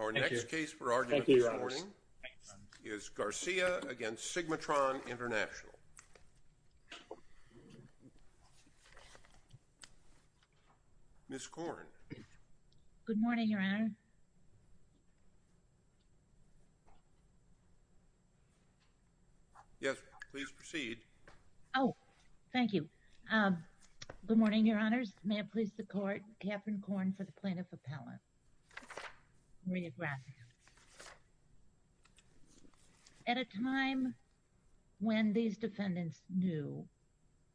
Our next case for argument this morning is Garcia v. SigmaTron International. Ms. Korn. Good morning, Your Honor. Yes, please proceed. Oh, thank you. Good morning, Your Honors. May it please the Court, Katherine Korn for the Plaintiff Appellant. Maria Gracia. At a time when these defendants knew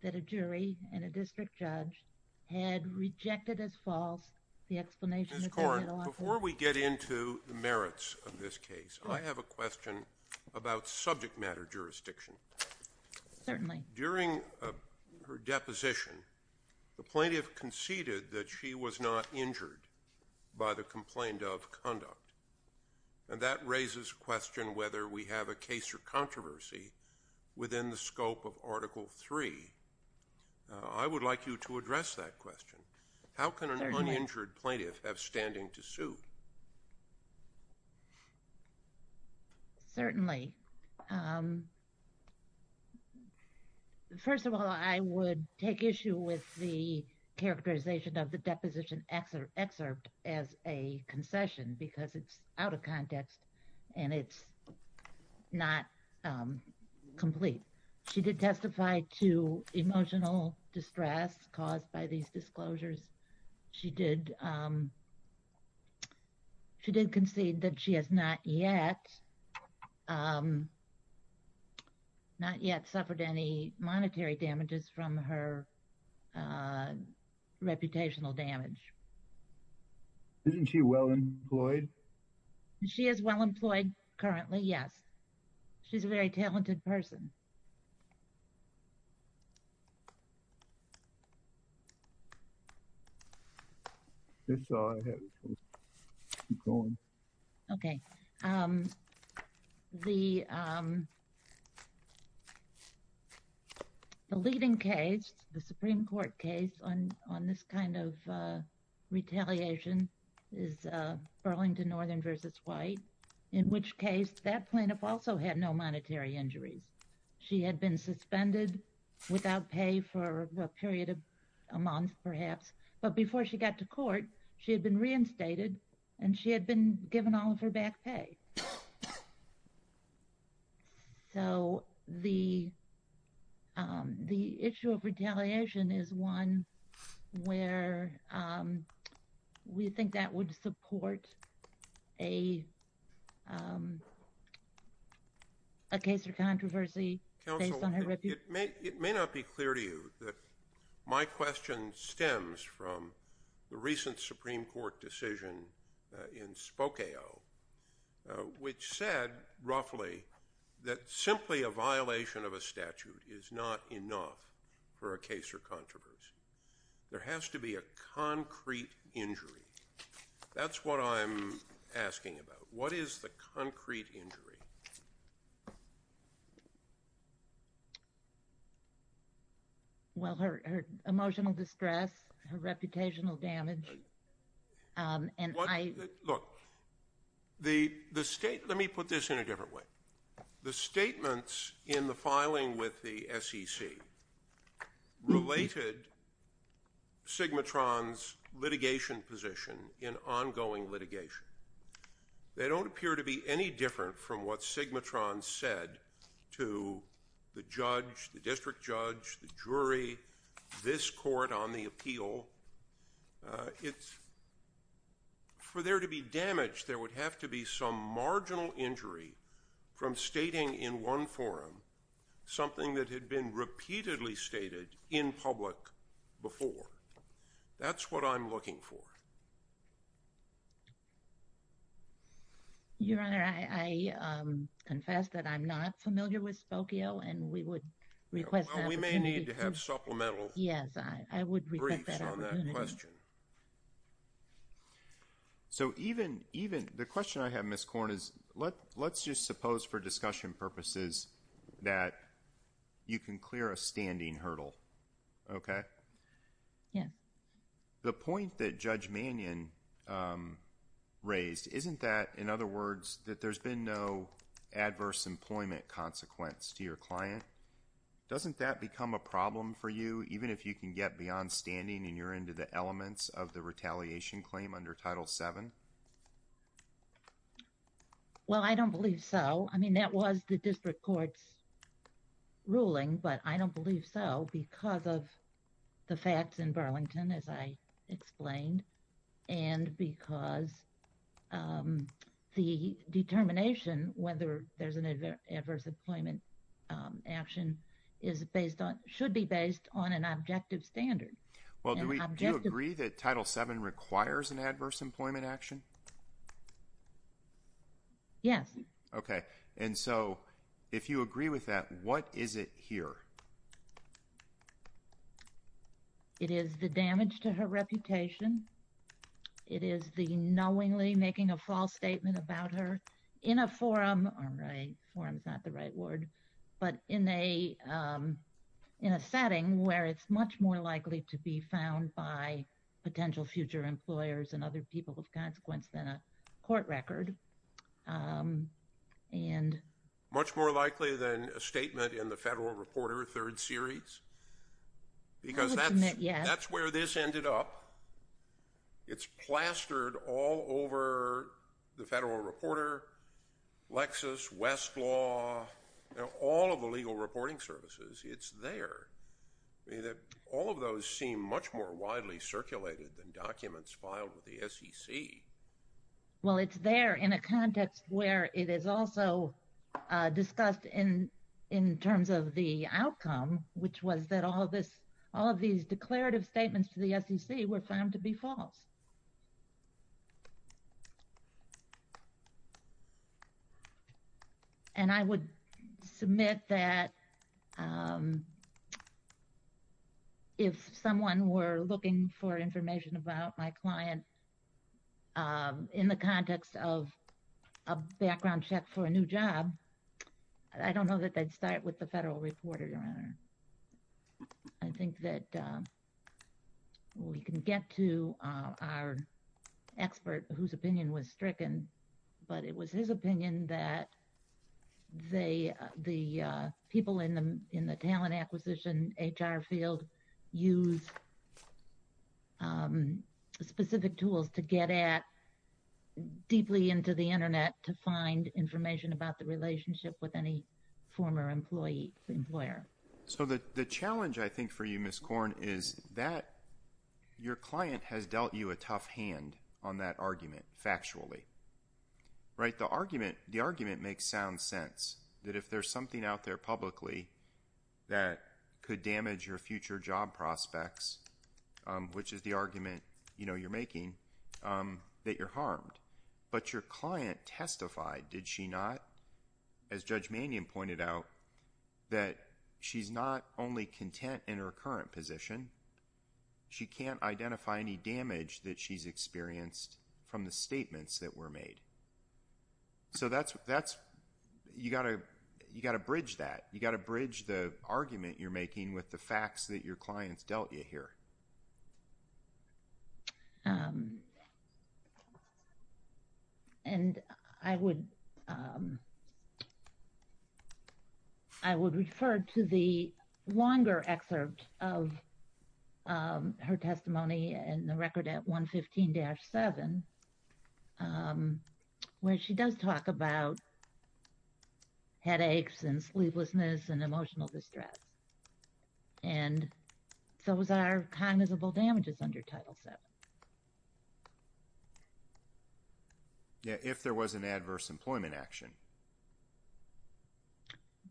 that a jury and a district judge had rejected as false the explanation of their middle authority... Ms. Korn, before we get into the merits of this case, I have a question about subject matter jurisdiction. Certainly. During her deposition, the plaintiff conceded that she was not injured by the complaint of conduct. And that raises a question whether we have a case or controversy within the scope of Article III. I would like you to address that question. How can an uninjured plaintiff have standing to sue? Certainly. First of all, I would take issue with the characterization of the deposition excerpt as a concession because it's out of context and it's not complete. She did testify to emotional distress caused by these disclosures. She did concede that she has not yet suffered any monetary damages from her reputational damage. Isn't she well employed? She is well employed currently, yes. She's a very talented person. That's all I have. Keep going. Okay. The leading case, the Supreme Court case on this kind of retaliation, is Burlington Northern v. White. In which case, that plaintiff also had no monetary injuries. She had been suspended without pay for a period of a month, perhaps. But before she got to court, she had been reinstated and she had been given all of her back pay. So the issue of retaliation is one where we think that would support a case or controversy based on her reputation. It may not be clear to you that my question stems from the recent Supreme Court decision in Spokane, which said roughly that simply a violation of a statute is not enough for a case or controversy. There has to be a concrete injury. That's what I'm asking about. What is the concrete injury? Well, her emotional distress, her reputational damage. Look, let me put this in a different way. The statements in the filing with the SEC related Sigmatron's litigation position in ongoing litigation. They don't appear to be any different from what Sigmatron said to the judge, the district judge, the jury, this court on the appeal. It's for there to be damage, there would have to be some marginal injury from stating in one forum something that had been repeatedly stated in public before. That's what I'm looking for. Your Honor, I confess that I'm not familiar with Spokane and we would request that we may need to have supplemental. Yes, I would request that opportunity. Briefs on that question. The question I have, Ms. Corn, is let's just suppose for discussion purposes that you can clear a standing hurdle, okay? Yes. The point that Judge Mannion raised, isn't that, in other words, that there's been no adverse employment consequence to your client? Doesn't that become a problem for you, even if you can get beyond standing and you're into the elements of the retaliation claim under Title VII? Well, I don't believe so. I mean, that was the district court's ruling, but I don't believe so because of the facts in Burlington, as I explained, and because the determination whether there's an adverse employment action should be based on an objective standard. Well, do you agree that Title VII requires an adverse employment action? Yes. Okay. And so, if you agree with that, what is it here? It is the damage to her reputation. It is the knowingly making a false statement about her in a forum. Forum is not the right word. But in a setting where it's much more likely to be found by potential future employers and other people of consequence than a court record. Much more likely than a statement in the Federal Reporter Third Series because that's where this ended up. It's plastered all over the Federal Reporter, Lexis, Westlaw, all of the legal reporting services. It's there. All of those seem much more widely circulated than documents filed with the SEC. Well, it's there in a context where it is also discussed in terms of the outcome, which was that all of these declarative statements to the SEC were found to be false. And I would submit that if someone were looking for information about my client in the context of a background check for a new job, I don't know that they'd start with the Federal Reporter, Your Honor. I think that we can get to our expert whose opinion was stricken. But it was his opinion that the people in the talent acquisition, HR field, use specific tools to get at deeply into the Internet to find information about the relationship with any former employee, employer. So the challenge, I think, for you, Ms. Corn, is that your client has dealt you a tough hand on that argument factually. The argument makes sound sense that if there's something out there publicly that could damage your future job prospects, which is the argument you're making, that you're harmed. But your client testified, did she not? As Judge Mannion pointed out, that she's not only content in her current position, she can't identify any damage that she's experienced from the statements that were made. So you've got to bridge that. You've got to bridge the argument you're making with the facts that your clients dealt you here. And I would refer to the longer excerpt of her testimony in the record at 115-7, where she does talk about headaches and sleeplessness and emotional distress. And those are cognizable damages under Title VII. Yeah, if there was an adverse employment action.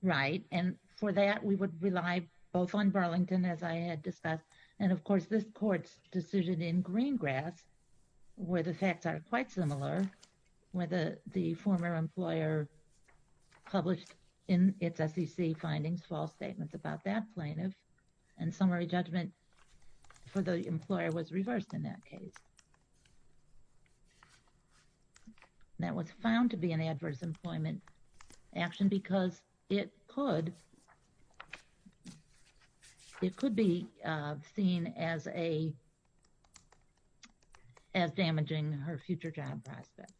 Right. And for that, we would rely both on Burlington, as I had discussed, and of course, this court's decision in Greengrass, where the facts are quite similar, where the former employer published in its SEC findings false statements about that plaintiff, and summary judgment for the employer was reversed in that case. That was found to be an adverse employment action because it could be seen as damaging her future job prospects.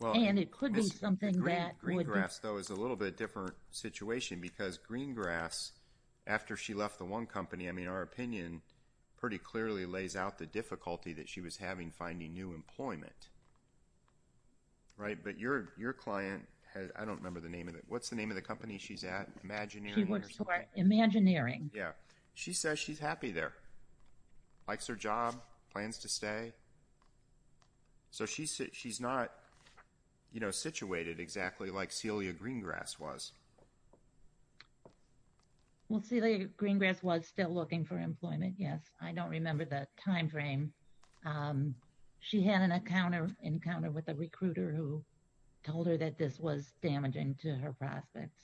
And it could be something that would... Greengrass, though, is a little bit different situation because Greengrass, after she left the one company, I mean, our opinion pretty clearly lays out the difficulty that she was having finding new employment. Right? But your client, I don't remember the name of it, what's the name of the company she's at? Imagineering or something? Imagineering. Yeah. She says she's happy there. Likes her job. Plans to stay. So she's not, you know, situated exactly like Celia Greengrass was. Well, Celia Greengrass was still looking for employment, yes. I don't remember the timeframe. She had an encounter with a recruiter who told her that this was damaging to her prospects.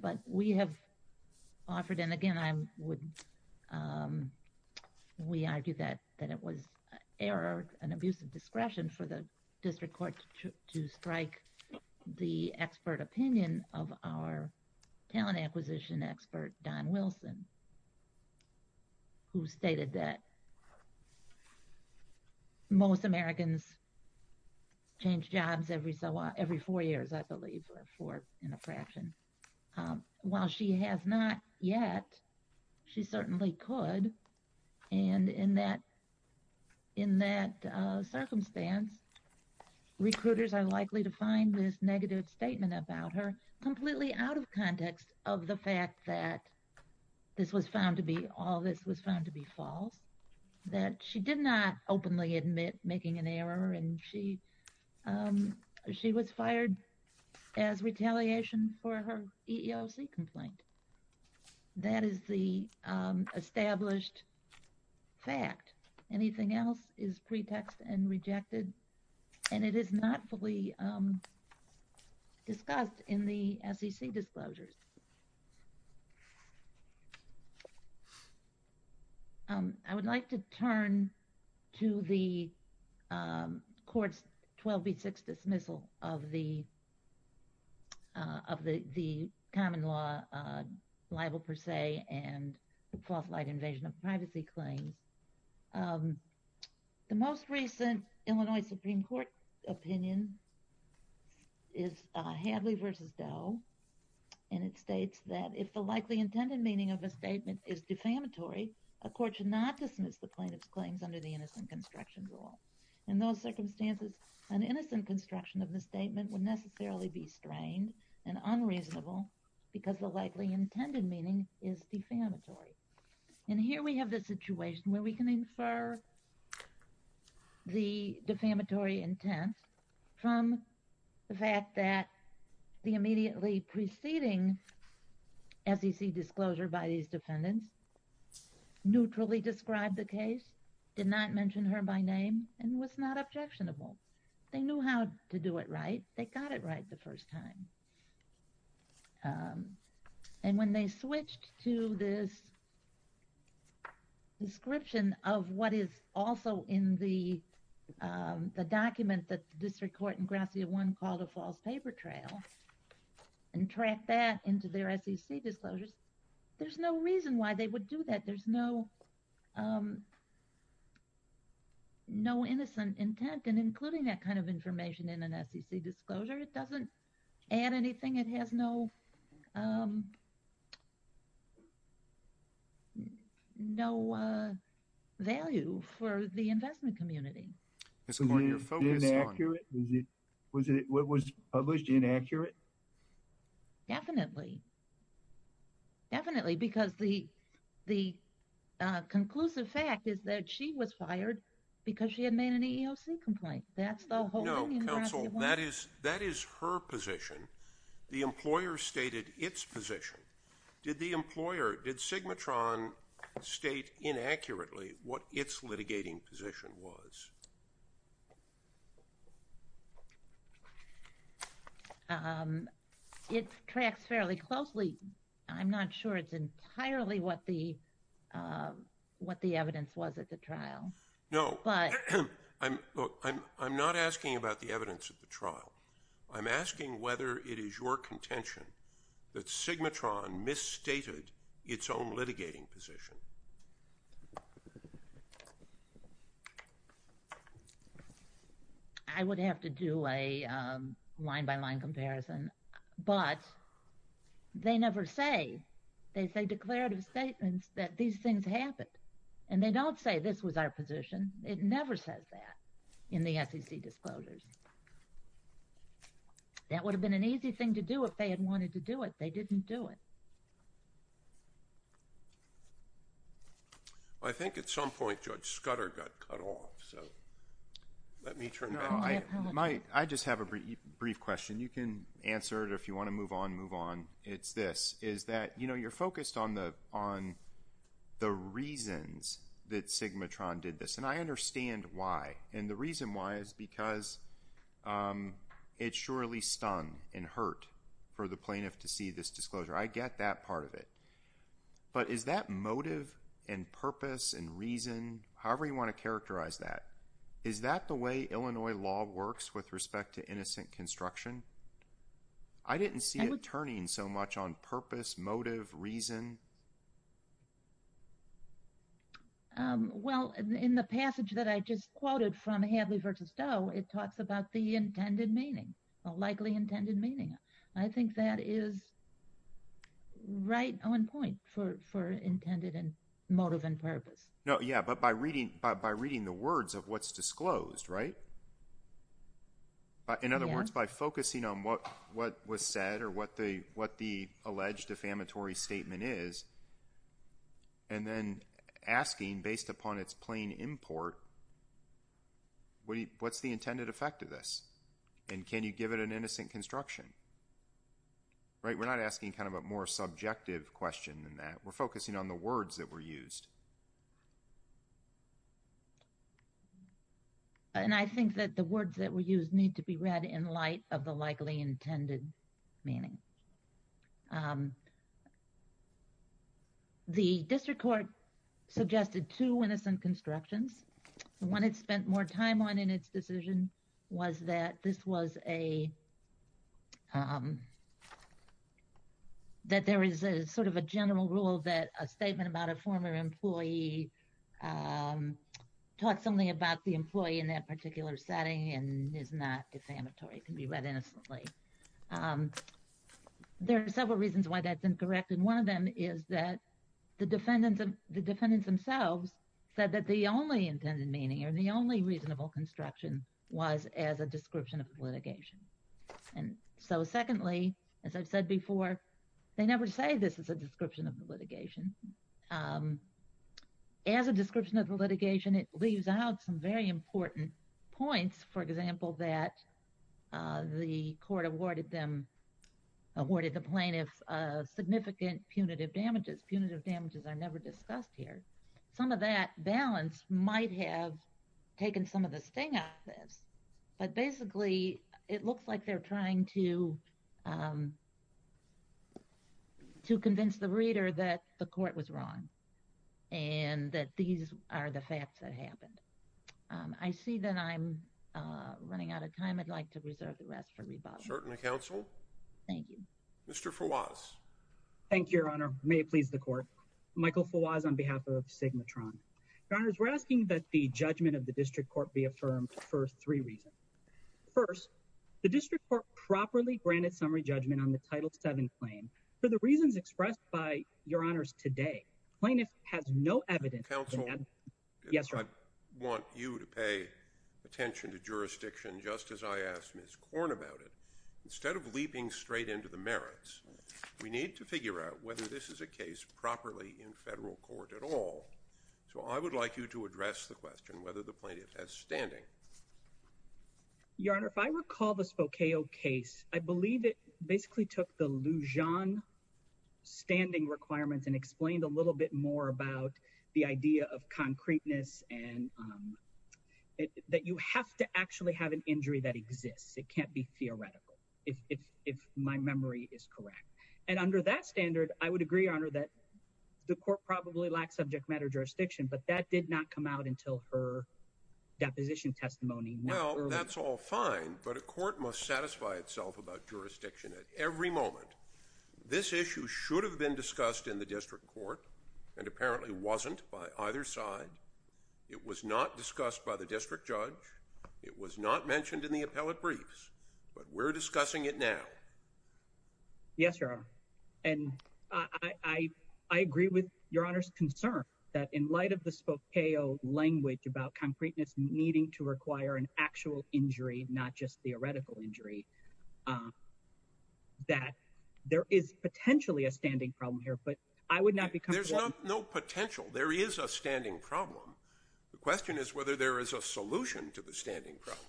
But we have offered, and again, we argue that it was an error, an abuse of discretion for the district court to strike the expert opinion of our talent acquisition expert, Don Wilson, who stated that most Americans change jobs every four years, I believe, or four in a fraction. While she has not yet, she certainly could. And in that circumstance, recruiters are likely to find this negative statement about her completely out of context of the fact that this was found to be, all this was found to be false. That she did not openly admit making an error, and she was fired as retaliation for her EEOC complaint. That is the established fact. Anything else is pretext and rejected, and it is not fully discussed in the SEC disclosures. I would like to turn to the court's 12B6 dismissal of the common law libel per se and false light invasion of privacy claims. The most recent Illinois Supreme Court opinion is Hadley v. Doe, and it states that if the likely intended meaning of a statement is defamatory, a court should not dismiss the plaintiff's claims under the innocent construction rule. In those circumstances, an innocent construction of the statement would necessarily be strained and unreasonable because the likely intended meaning is defamatory. And here we have the situation where we can infer the defamatory intent from the fact that the immediately preceding SEC disclosure by these defendants neutrally described the case, did not mention her by name, and was not objectionable. They knew how to do it right. They got it right the first time. And when they switched to this description of what is also in the document that the district court in Gracia 1 called a false paper trail and tracked that into their SEC disclosures, there's no reason why they would do that. There's no innocent intent. And including that kind of information in an SEC disclosure, it doesn't add anything. It has no value for the investment community. Was it published inaccurate? Definitely. Definitely. Because the conclusive fact is that she was fired because she had made an EEOC complaint. That's the whole thing in Gracia 1. No, counsel, that is her position. The employer stated its position. Did the employer, did Sigmatron state inaccurately what its litigating position was? It tracks fairly closely. I'm not sure it's entirely what the evidence was at the trial. No, I'm not asking about the evidence at the trial. I'm asking whether it is your contention that Sigmatron misstated its own litigating position. I would have to do a line-by-line comparison. But they never say. They say declarative statements that these things happened. And they don't say this was our position. It never says that in the SEC disclosures. That would have been an easy thing to do if they had wanted to do it. They didn't do it. I think at some point Judge Scudder got cut off. I just have a brief question. You can answer it if you want to move on. It's this. You're focused on the reasons that Sigmatron did this. And I understand why. And the reason why is because it surely stunned and hurt for the plaintiff to see this disclosure. I get that part of it. But is that motive and purpose and reason, however you want to characterize that, is that the way Illinois law works with respect to innocent construction? I didn't see it turning so much on purpose, motive, reason. Well, in the passage that I just quoted from Hadley v. Doe, it talks about the intended meaning, a likely intended meaning. I think that is right on point for intended motive and purpose. But by reading the words of what's disclosed, right? In other words, by focusing on what was said or what the alleged defamatory statement is, and then asking based upon its plain import, what's the intended effect of this? And can you give it an innocent construction? Right? We're not asking kind of a more subjective question than that. We're focusing on the words that were used. And I think that the words that were used need to be read in light of the likely intended meaning. The district court suggested two innocent constructions. The one it spent more time on in its decision was that this was a, that there is a sort of a general rule that a statement about a former employee taught something about the employee in that particular setting and is not defamatory, can be read innocently. There are several reasons why that's incorrect. And one of them is that the defendants themselves said that the only intended meaning or the only reasonable construction was as a description of litigation. And so secondly, as I've said before, they never say this is a description of the litigation. As a description of the litigation, it leaves out some very important points. For example, that the court awarded them, awarded the plaintiffs significant punitive damages. Punitive damages are never discussed here. Some of that balance might have taken some of the sting out of this, but basically it looks like they're trying to, to convince the reader that the court was wrong and that these are the facts that happened. I see that I'm running out of time. I'd like to reserve the rest for rebuttal. Certainly, counsel. Thank you. Mr. Fawaz. Thank you, Your Honor. May it please the court. Michael Fawaz on behalf of Sigmatron. Your Honors, we're asking that the judgment of the district court be affirmed for three reasons. First, the district court properly granted summary judgment on the Title VII claim for the reasons expressed by Your Honors today. Plaintiff has no evidence. Counsel. Yes, sir. I want you to pay attention to jurisdiction just as I asked Ms. Korn about it. Instead of leaping straight into the merits, we need to figure out whether this is a case properly in federal court at all. So I would like you to address the question whether the plaintiff has standing. Your Honor, if I recall the Spokeo case, I believe it basically took the Lujan standing requirements and explained a little bit more about the idea of concreteness and that you have to actually have an injury that exists. It can't be theoretical. If my memory is correct. And under that standard, I would agree, Your Honor, that the court probably lacks subject matter jurisdiction, but that did not come out until her deposition testimony. Well, that's all fine, but a court must satisfy itself about jurisdiction at every moment. This issue should have been discussed in the district court and apparently wasn't by either side. It was not discussed by the district judge. It was not mentioned in the appellate briefs, but we're discussing it now. Yes, Your Honor. And I agree with Your Honor's concern that in light of the Spokeo language about concreteness needing to require an actual injury, not just theoretical injury, that there is potentially a standing problem here, but I would not be comfortable. There's no potential. There is a standing problem. The question is whether there is a solution to the standing problem.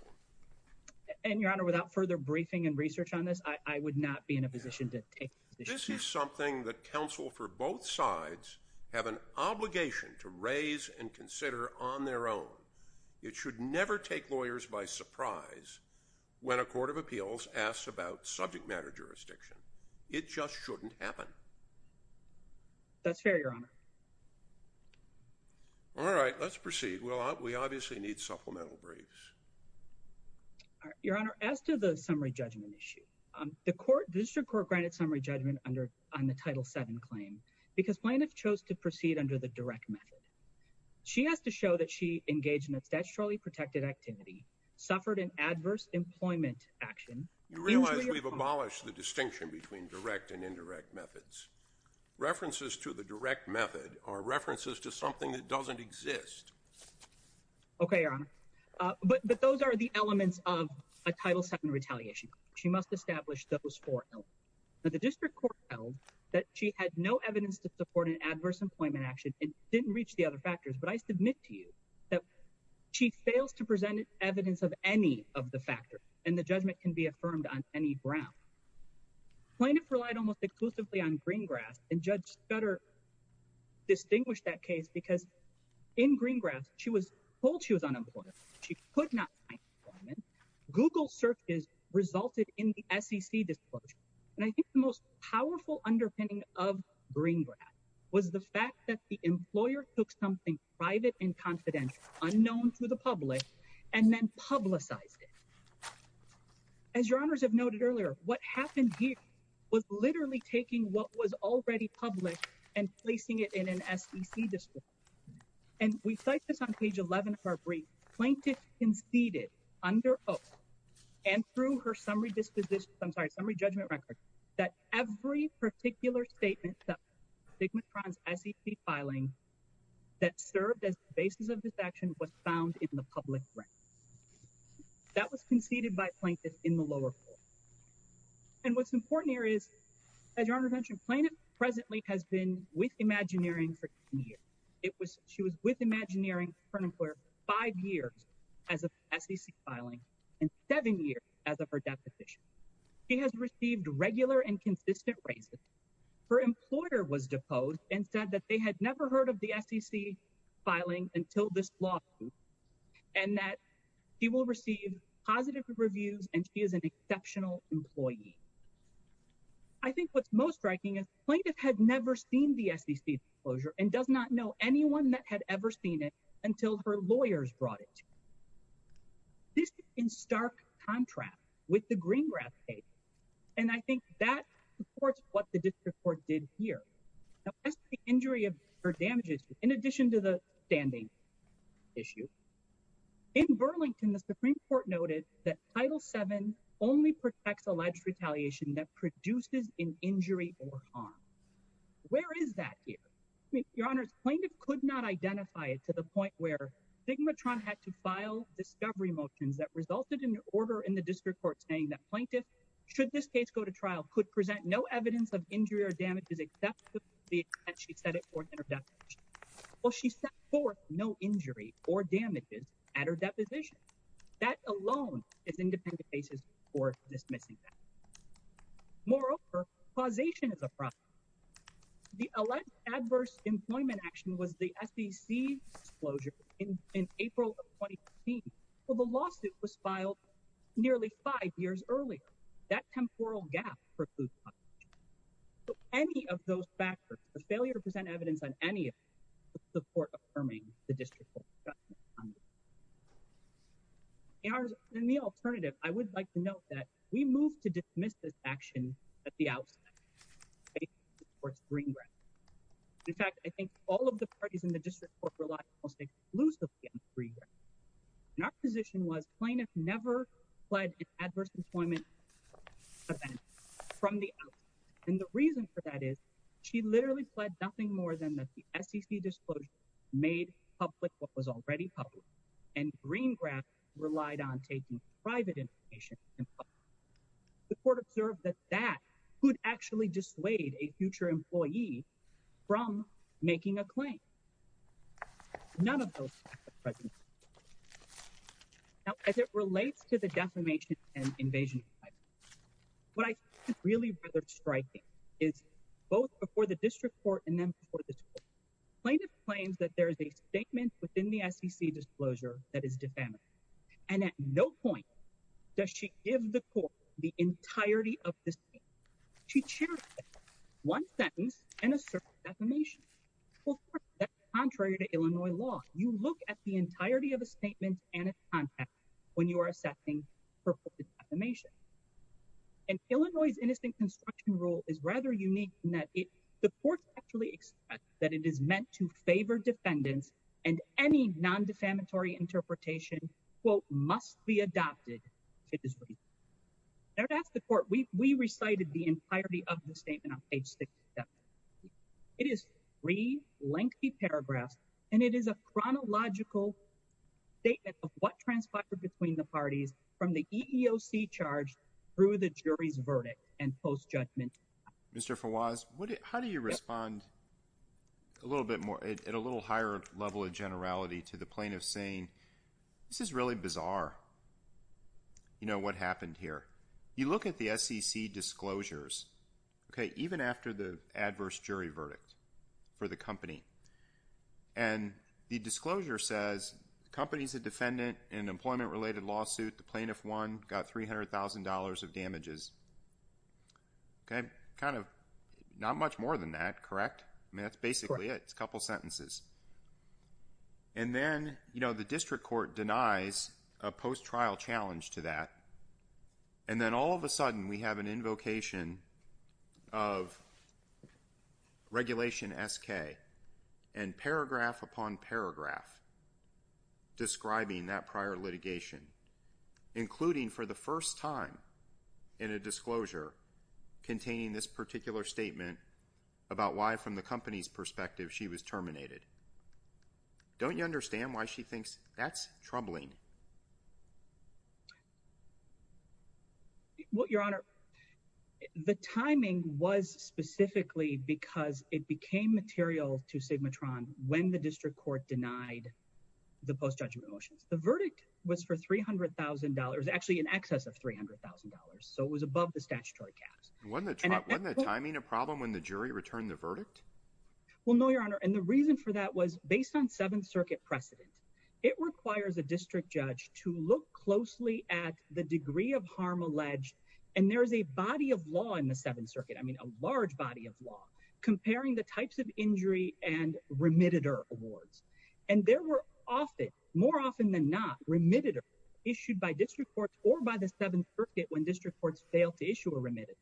And Your Honor, without further briefing and research on this, I would not be in a position to take this. This is something that counsel for both sides have an obligation to raise and consider on their own. It should never take lawyers by surprise when a court of appeals asks about subject matter jurisdiction. It just shouldn't happen. That's fair, Your Honor. All right, let's proceed. We obviously need supplemental briefs. Your Honor, as to the summary judgment issue, the district court granted summary judgment on the Title VII claim because plaintiff chose to proceed under the direct method. She has to show that she engaged in a statutorily protected activity, suffered an adverse employment action. You realize we've abolished the distinction between direct and indirect methods. References to the direct method are references to something that doesn't exist. Okay, Your Honor. But those are the elements of a Title VII retaliation. She must establish those four elements. The district court held that she had no evidence to support an adverse employment action and didn't reach the other factors. But I submit to you that she fails to present evidence of any of the factors, and the judgment can be affirmed on any ground. Plaintiff relied almost exclusively on Greengrass, and Judge Scudder distinguished that case because in Greengrass, she was told she was unemployed. She could not find employment. Google searches resulted in the SEC disclosure. And I think the most powerful underpinning of Greengrass was the fact that the employer took something private and confidential, unknown to the public, and then publicized it. As Your Honors have noted earlier, what happened here was literally taking what was already public and placing it in an SEC disclosure. And we cite this on page 11 of our brief. Plaintiff conceded under oath and through her summary disposition, I'm sorry, summary judgment record, that every particular statement that Sigmatron's SEC filing that served as the basis of this action was found in the public ring. That was conceded by Plaintiff in the lower court. And what's important here is, as Your Honors mentioned, Plaintiff presently has been with Imagineering for 10 years. She was with Imagineering for an employer for five years as of SEC filing and seven years as of her deposition. She has received regular and consistent raises. Her employer was deposed and said that they had never heard of the SEC filing until this lawsuit and that she will receive positive reviews and she is an exceptional employee. I think what's most striking is Plaintiff had never seen the SEC disclosure and does not know anyone that had ever seen it until her lawyers brought it to her. This is in stark contrast with the Greengrass case. And I think that supports what the district court did here. That's the injury or damages in addition to the standing issue. In Burlington, the Supreme Court noted that Title VII only protects alleged retaliation that produces an injury or harm. Where is that here? Your Honors, Plaintiff could not identify it to the point where Sigmatron had to file discovery motions that resulted in an order in the district court saying that Plaintiff, should this case go to trial, could present no evidence of injury or damages except the extent she set it forth in her deposition. Well, she set forth no injury or damages at her deposition. That alone is independent basis for dismissing that. Moreover, causation is a problem. The alleged adverse employment action was the SEC disclosure in April of 2015. Well, the lawsuit was filed nearly five years earlier. That temporal gap produced causation. So any of those factors, the failure to present evidence on any of them, would support affirming the district court's judgment on this. Your Honors, in the alternative, I would like to note that we moved to dismiss this action at the outset. In fact, I think all of the parties in the district court relied exclusively on the Green Grant. And our position was Plaintiff never fled an adverse employment event from the outset. And the reason for that is she literally fled nothing more than the SEC disclosure made public what was already public. And Green Grant relied on taking private information. The court observed that that could actually dissuade a future employee from making a claim. None of those factors present. Now, as it relates to the defamation and invasion of privacy, what I think is really rather striking is both before the district court and then before the court. Plaintiff claims that there is a statement within the SEC disclosure that is defamatory. And at no point does she give the court the entirety of the statement. She cherishes one sentence and asserts defamation. Well, that's contrary to Illinois law. You look at the entirety of a statement and its context when you are assessing for defamation. And Illinois' innocent construction rule is rather unique in that the court actually expressed that it is meant to favor defendants and any non-defamatory interpretation, quote, must be adopted if it is reasonable. Now, to ask the court, we recited the entirety of the statement on page 67. It is three lengthy paragraphs, and it is a chronological statement of what transpired between the parties from the EEOC charge through the jury's verdict and post-judgment. Mr. Fawaz, how do you respond a little bit more at a little higher level of generality to the plaintiff saying, this is really bizarre, you know, what happened here? You look at the SEC disclosures, okay, even after the adverse jury verdict for the company. And the disclosure says the company is a defendant in an employment-related lawsuit. The plaintiff won, got $300,000 of damages. Okay, kind of not much more than that, correct? I mean, that's basically it. It's a couple sentences. And then, you know, the district court denies a post-trial challenge to that. And then all of a sudden we have an invocation of Regulation SK and paragraph upon paragraph describing that prior litigation, including for the first time in a disclosure containing this particular statement about why, from the company's perspective, she was terminated. Don't you understand why she thinks that's troubling? Well, Your Honor, the timing was specifically because it became material to Sigmatron when the district court denied the post-judgment motions. The verdict was for $300,000, actually in excess of $300,000. So it was above the statutory caps. Wasn't the timing a problem when the jury returned the verdict? Well, no, Your Honor. And the reason for that was based on Seventh Circuit precedent. It requires a district judge to look closely at the degree of harm alleged. And there is a body of law in the Seventh Circuit, I mean, a large body of law, comparing the types of injury and remitted awards. And there were often, more often than not, remitted awards issued by district courts or by the Seventh Circuit when district courts failed to issue a remitted.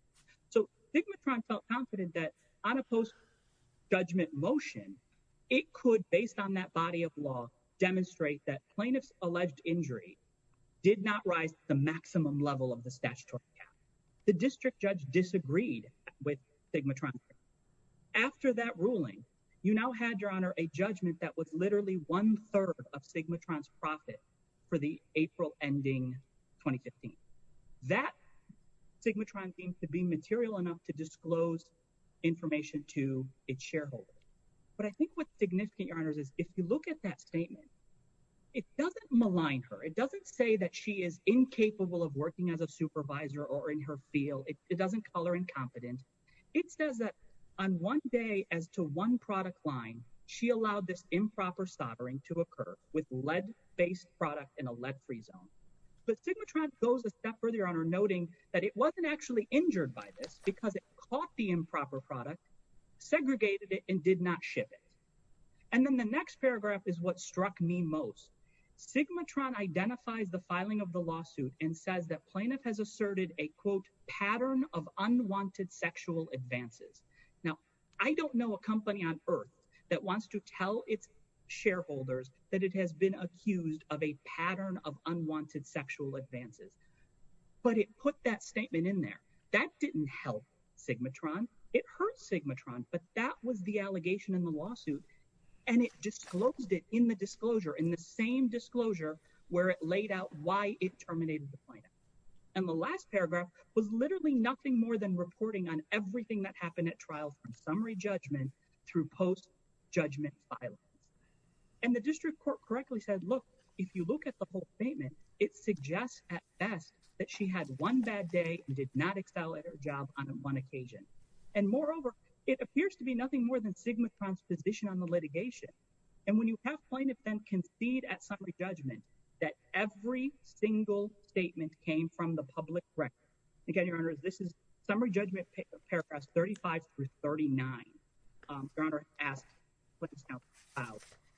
So Sigmatron felt confident that on a post-judgment motion, it could, based on that body of law, demonstrate that plaintiff's alleged injury did not rise to the maximum level of the statutory cap. The district judge disagreed with Sigmatron. After that ruling, you now had, Your Honor, a judgment that was literally one-third of Sigmatron's profit for the April ending 2015. That, Sigmatron deemed to be material enough to disclose information to its shareholder. But I think what's significant, Your Honor, is if you look at that statement, it doesn't malign her. It doesn't say that she is incapable of working as a supervisor or in her field. It doesn't call her incompetent. It says that on one day as to one product line, she allowed this improper soldering to occur with lead-based product in a lead-free zone. But Sigmatron goes a step further, Your Honor, noting that it wasn't actually injured by this because it caught the improper product, segregated it, and did not ship it. And then the next paragraph is what struck me most. Sigmatron identifies the filing of the lawsuit and says that plaintiff has asserted a, quote, pattern of unwanted sexual advances. Now, I don't know a company on Earth that wants to tell its shareholders that it has been accused of a pattern of unwanted sexual advances. But it put that statement in there. That didn't help Sigmatron. It hurt Sigmatron. But that was the allegation in the lawsuit, and it disclosed it in the disclosure, in the same disclosure where it laid out why it terminated the plaintiff. And the last paragraph was literally nothing more than reporting on everything that happened at trial from summary judgment through post-judgment filing. And the district court correctly said, look, if you look at the whole statement, it suggests at best that she had one bad day and did not excel at her job on one occasion. And moreover, it appears to be nothing more than Sigmatron's position on the litigation. And when you have plaintiff then concede at summary judgment that every single statement came from the public record, again, Your Honor, this is summary judgment paragraphs 35 through 39. Your Honor asked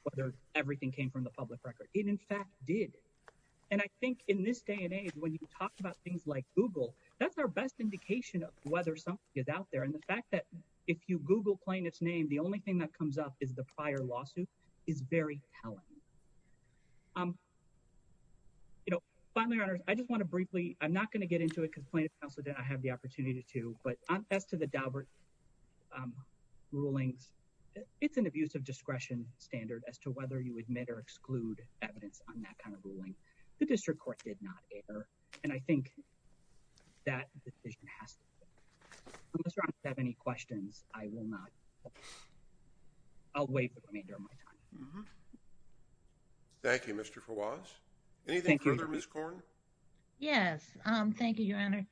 whether everything came from the public record. It in fact did. And I think in this day and age, when you talk about things like Google, that's our best indication of whether something is out there. And the fact that if you Google plaintiff's name, the only thing that comes up is the prior lawsuit is very telling. You know, finally, Your Honor, I just want to briefly, I'm not going to get into it because plaintiff counsel did not have the opportunity to. But as to the Daubert rulings, it's an abuse of discretion standard as to whether you admit or exclude evidence on that kind of ruling. The district court did not err. And I think that the decision has to be made. Unless Your Honor has any questions, I will not. I'll wait for the remainder of my time. Thank you, Mr. Fawaz. Anything further, Ms. Corn? Yes, thank you, Your Honor.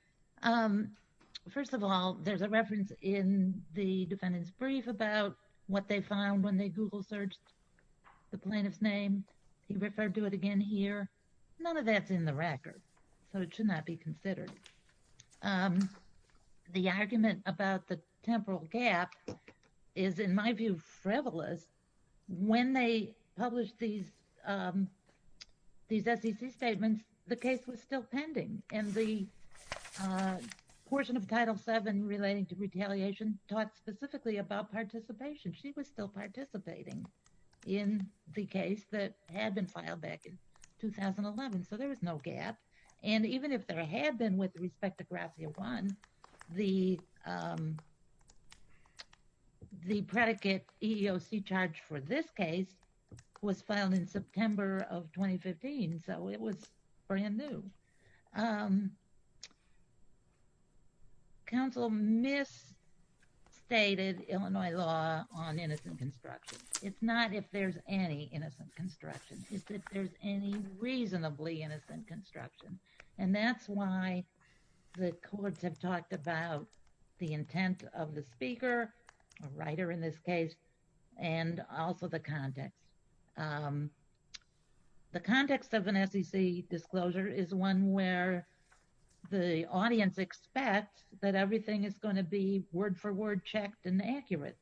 First of all, there's a reference in the defendant's brief about what they found when they Google searched the plaintiff's name. He referred to it again here. None of that's in the record. So it should not be considered. The argument about the temporal gap is, in my view, frivolous. When they published these SEC statements, the case was still pending. And the portion of Title VII relating to retaliation talked specifically about participation. She was still participating in the case that had been filed back in 2011. So there was no gap. And even if there had been with respect to Gratia I, the predicate EEOC charge for this case was filed in September of 2015. So it was brand new. Counsel misstated Illinois law on innocent construction. It's not if there's any innocent construction. It's if there's any reasonably innocent construction. And that's why the courts have talked about the intent of the speaker, a writer in this case, and also the context. The context of an SEC disclosure is one where the audience expects that everything is going to be word for word checked and accurate.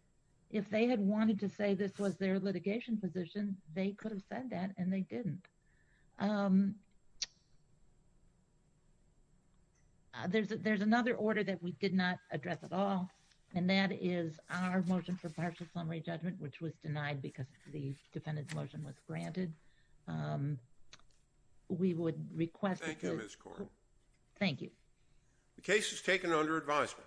If they had wanted to say this was their litigation position, they could have said that and they didn't. There's another order that we did not address at all. And that is our motion for partial summary judgment, which was denied because the defendant's motion was granted. We would request. Thank you. The case is taken under advisement.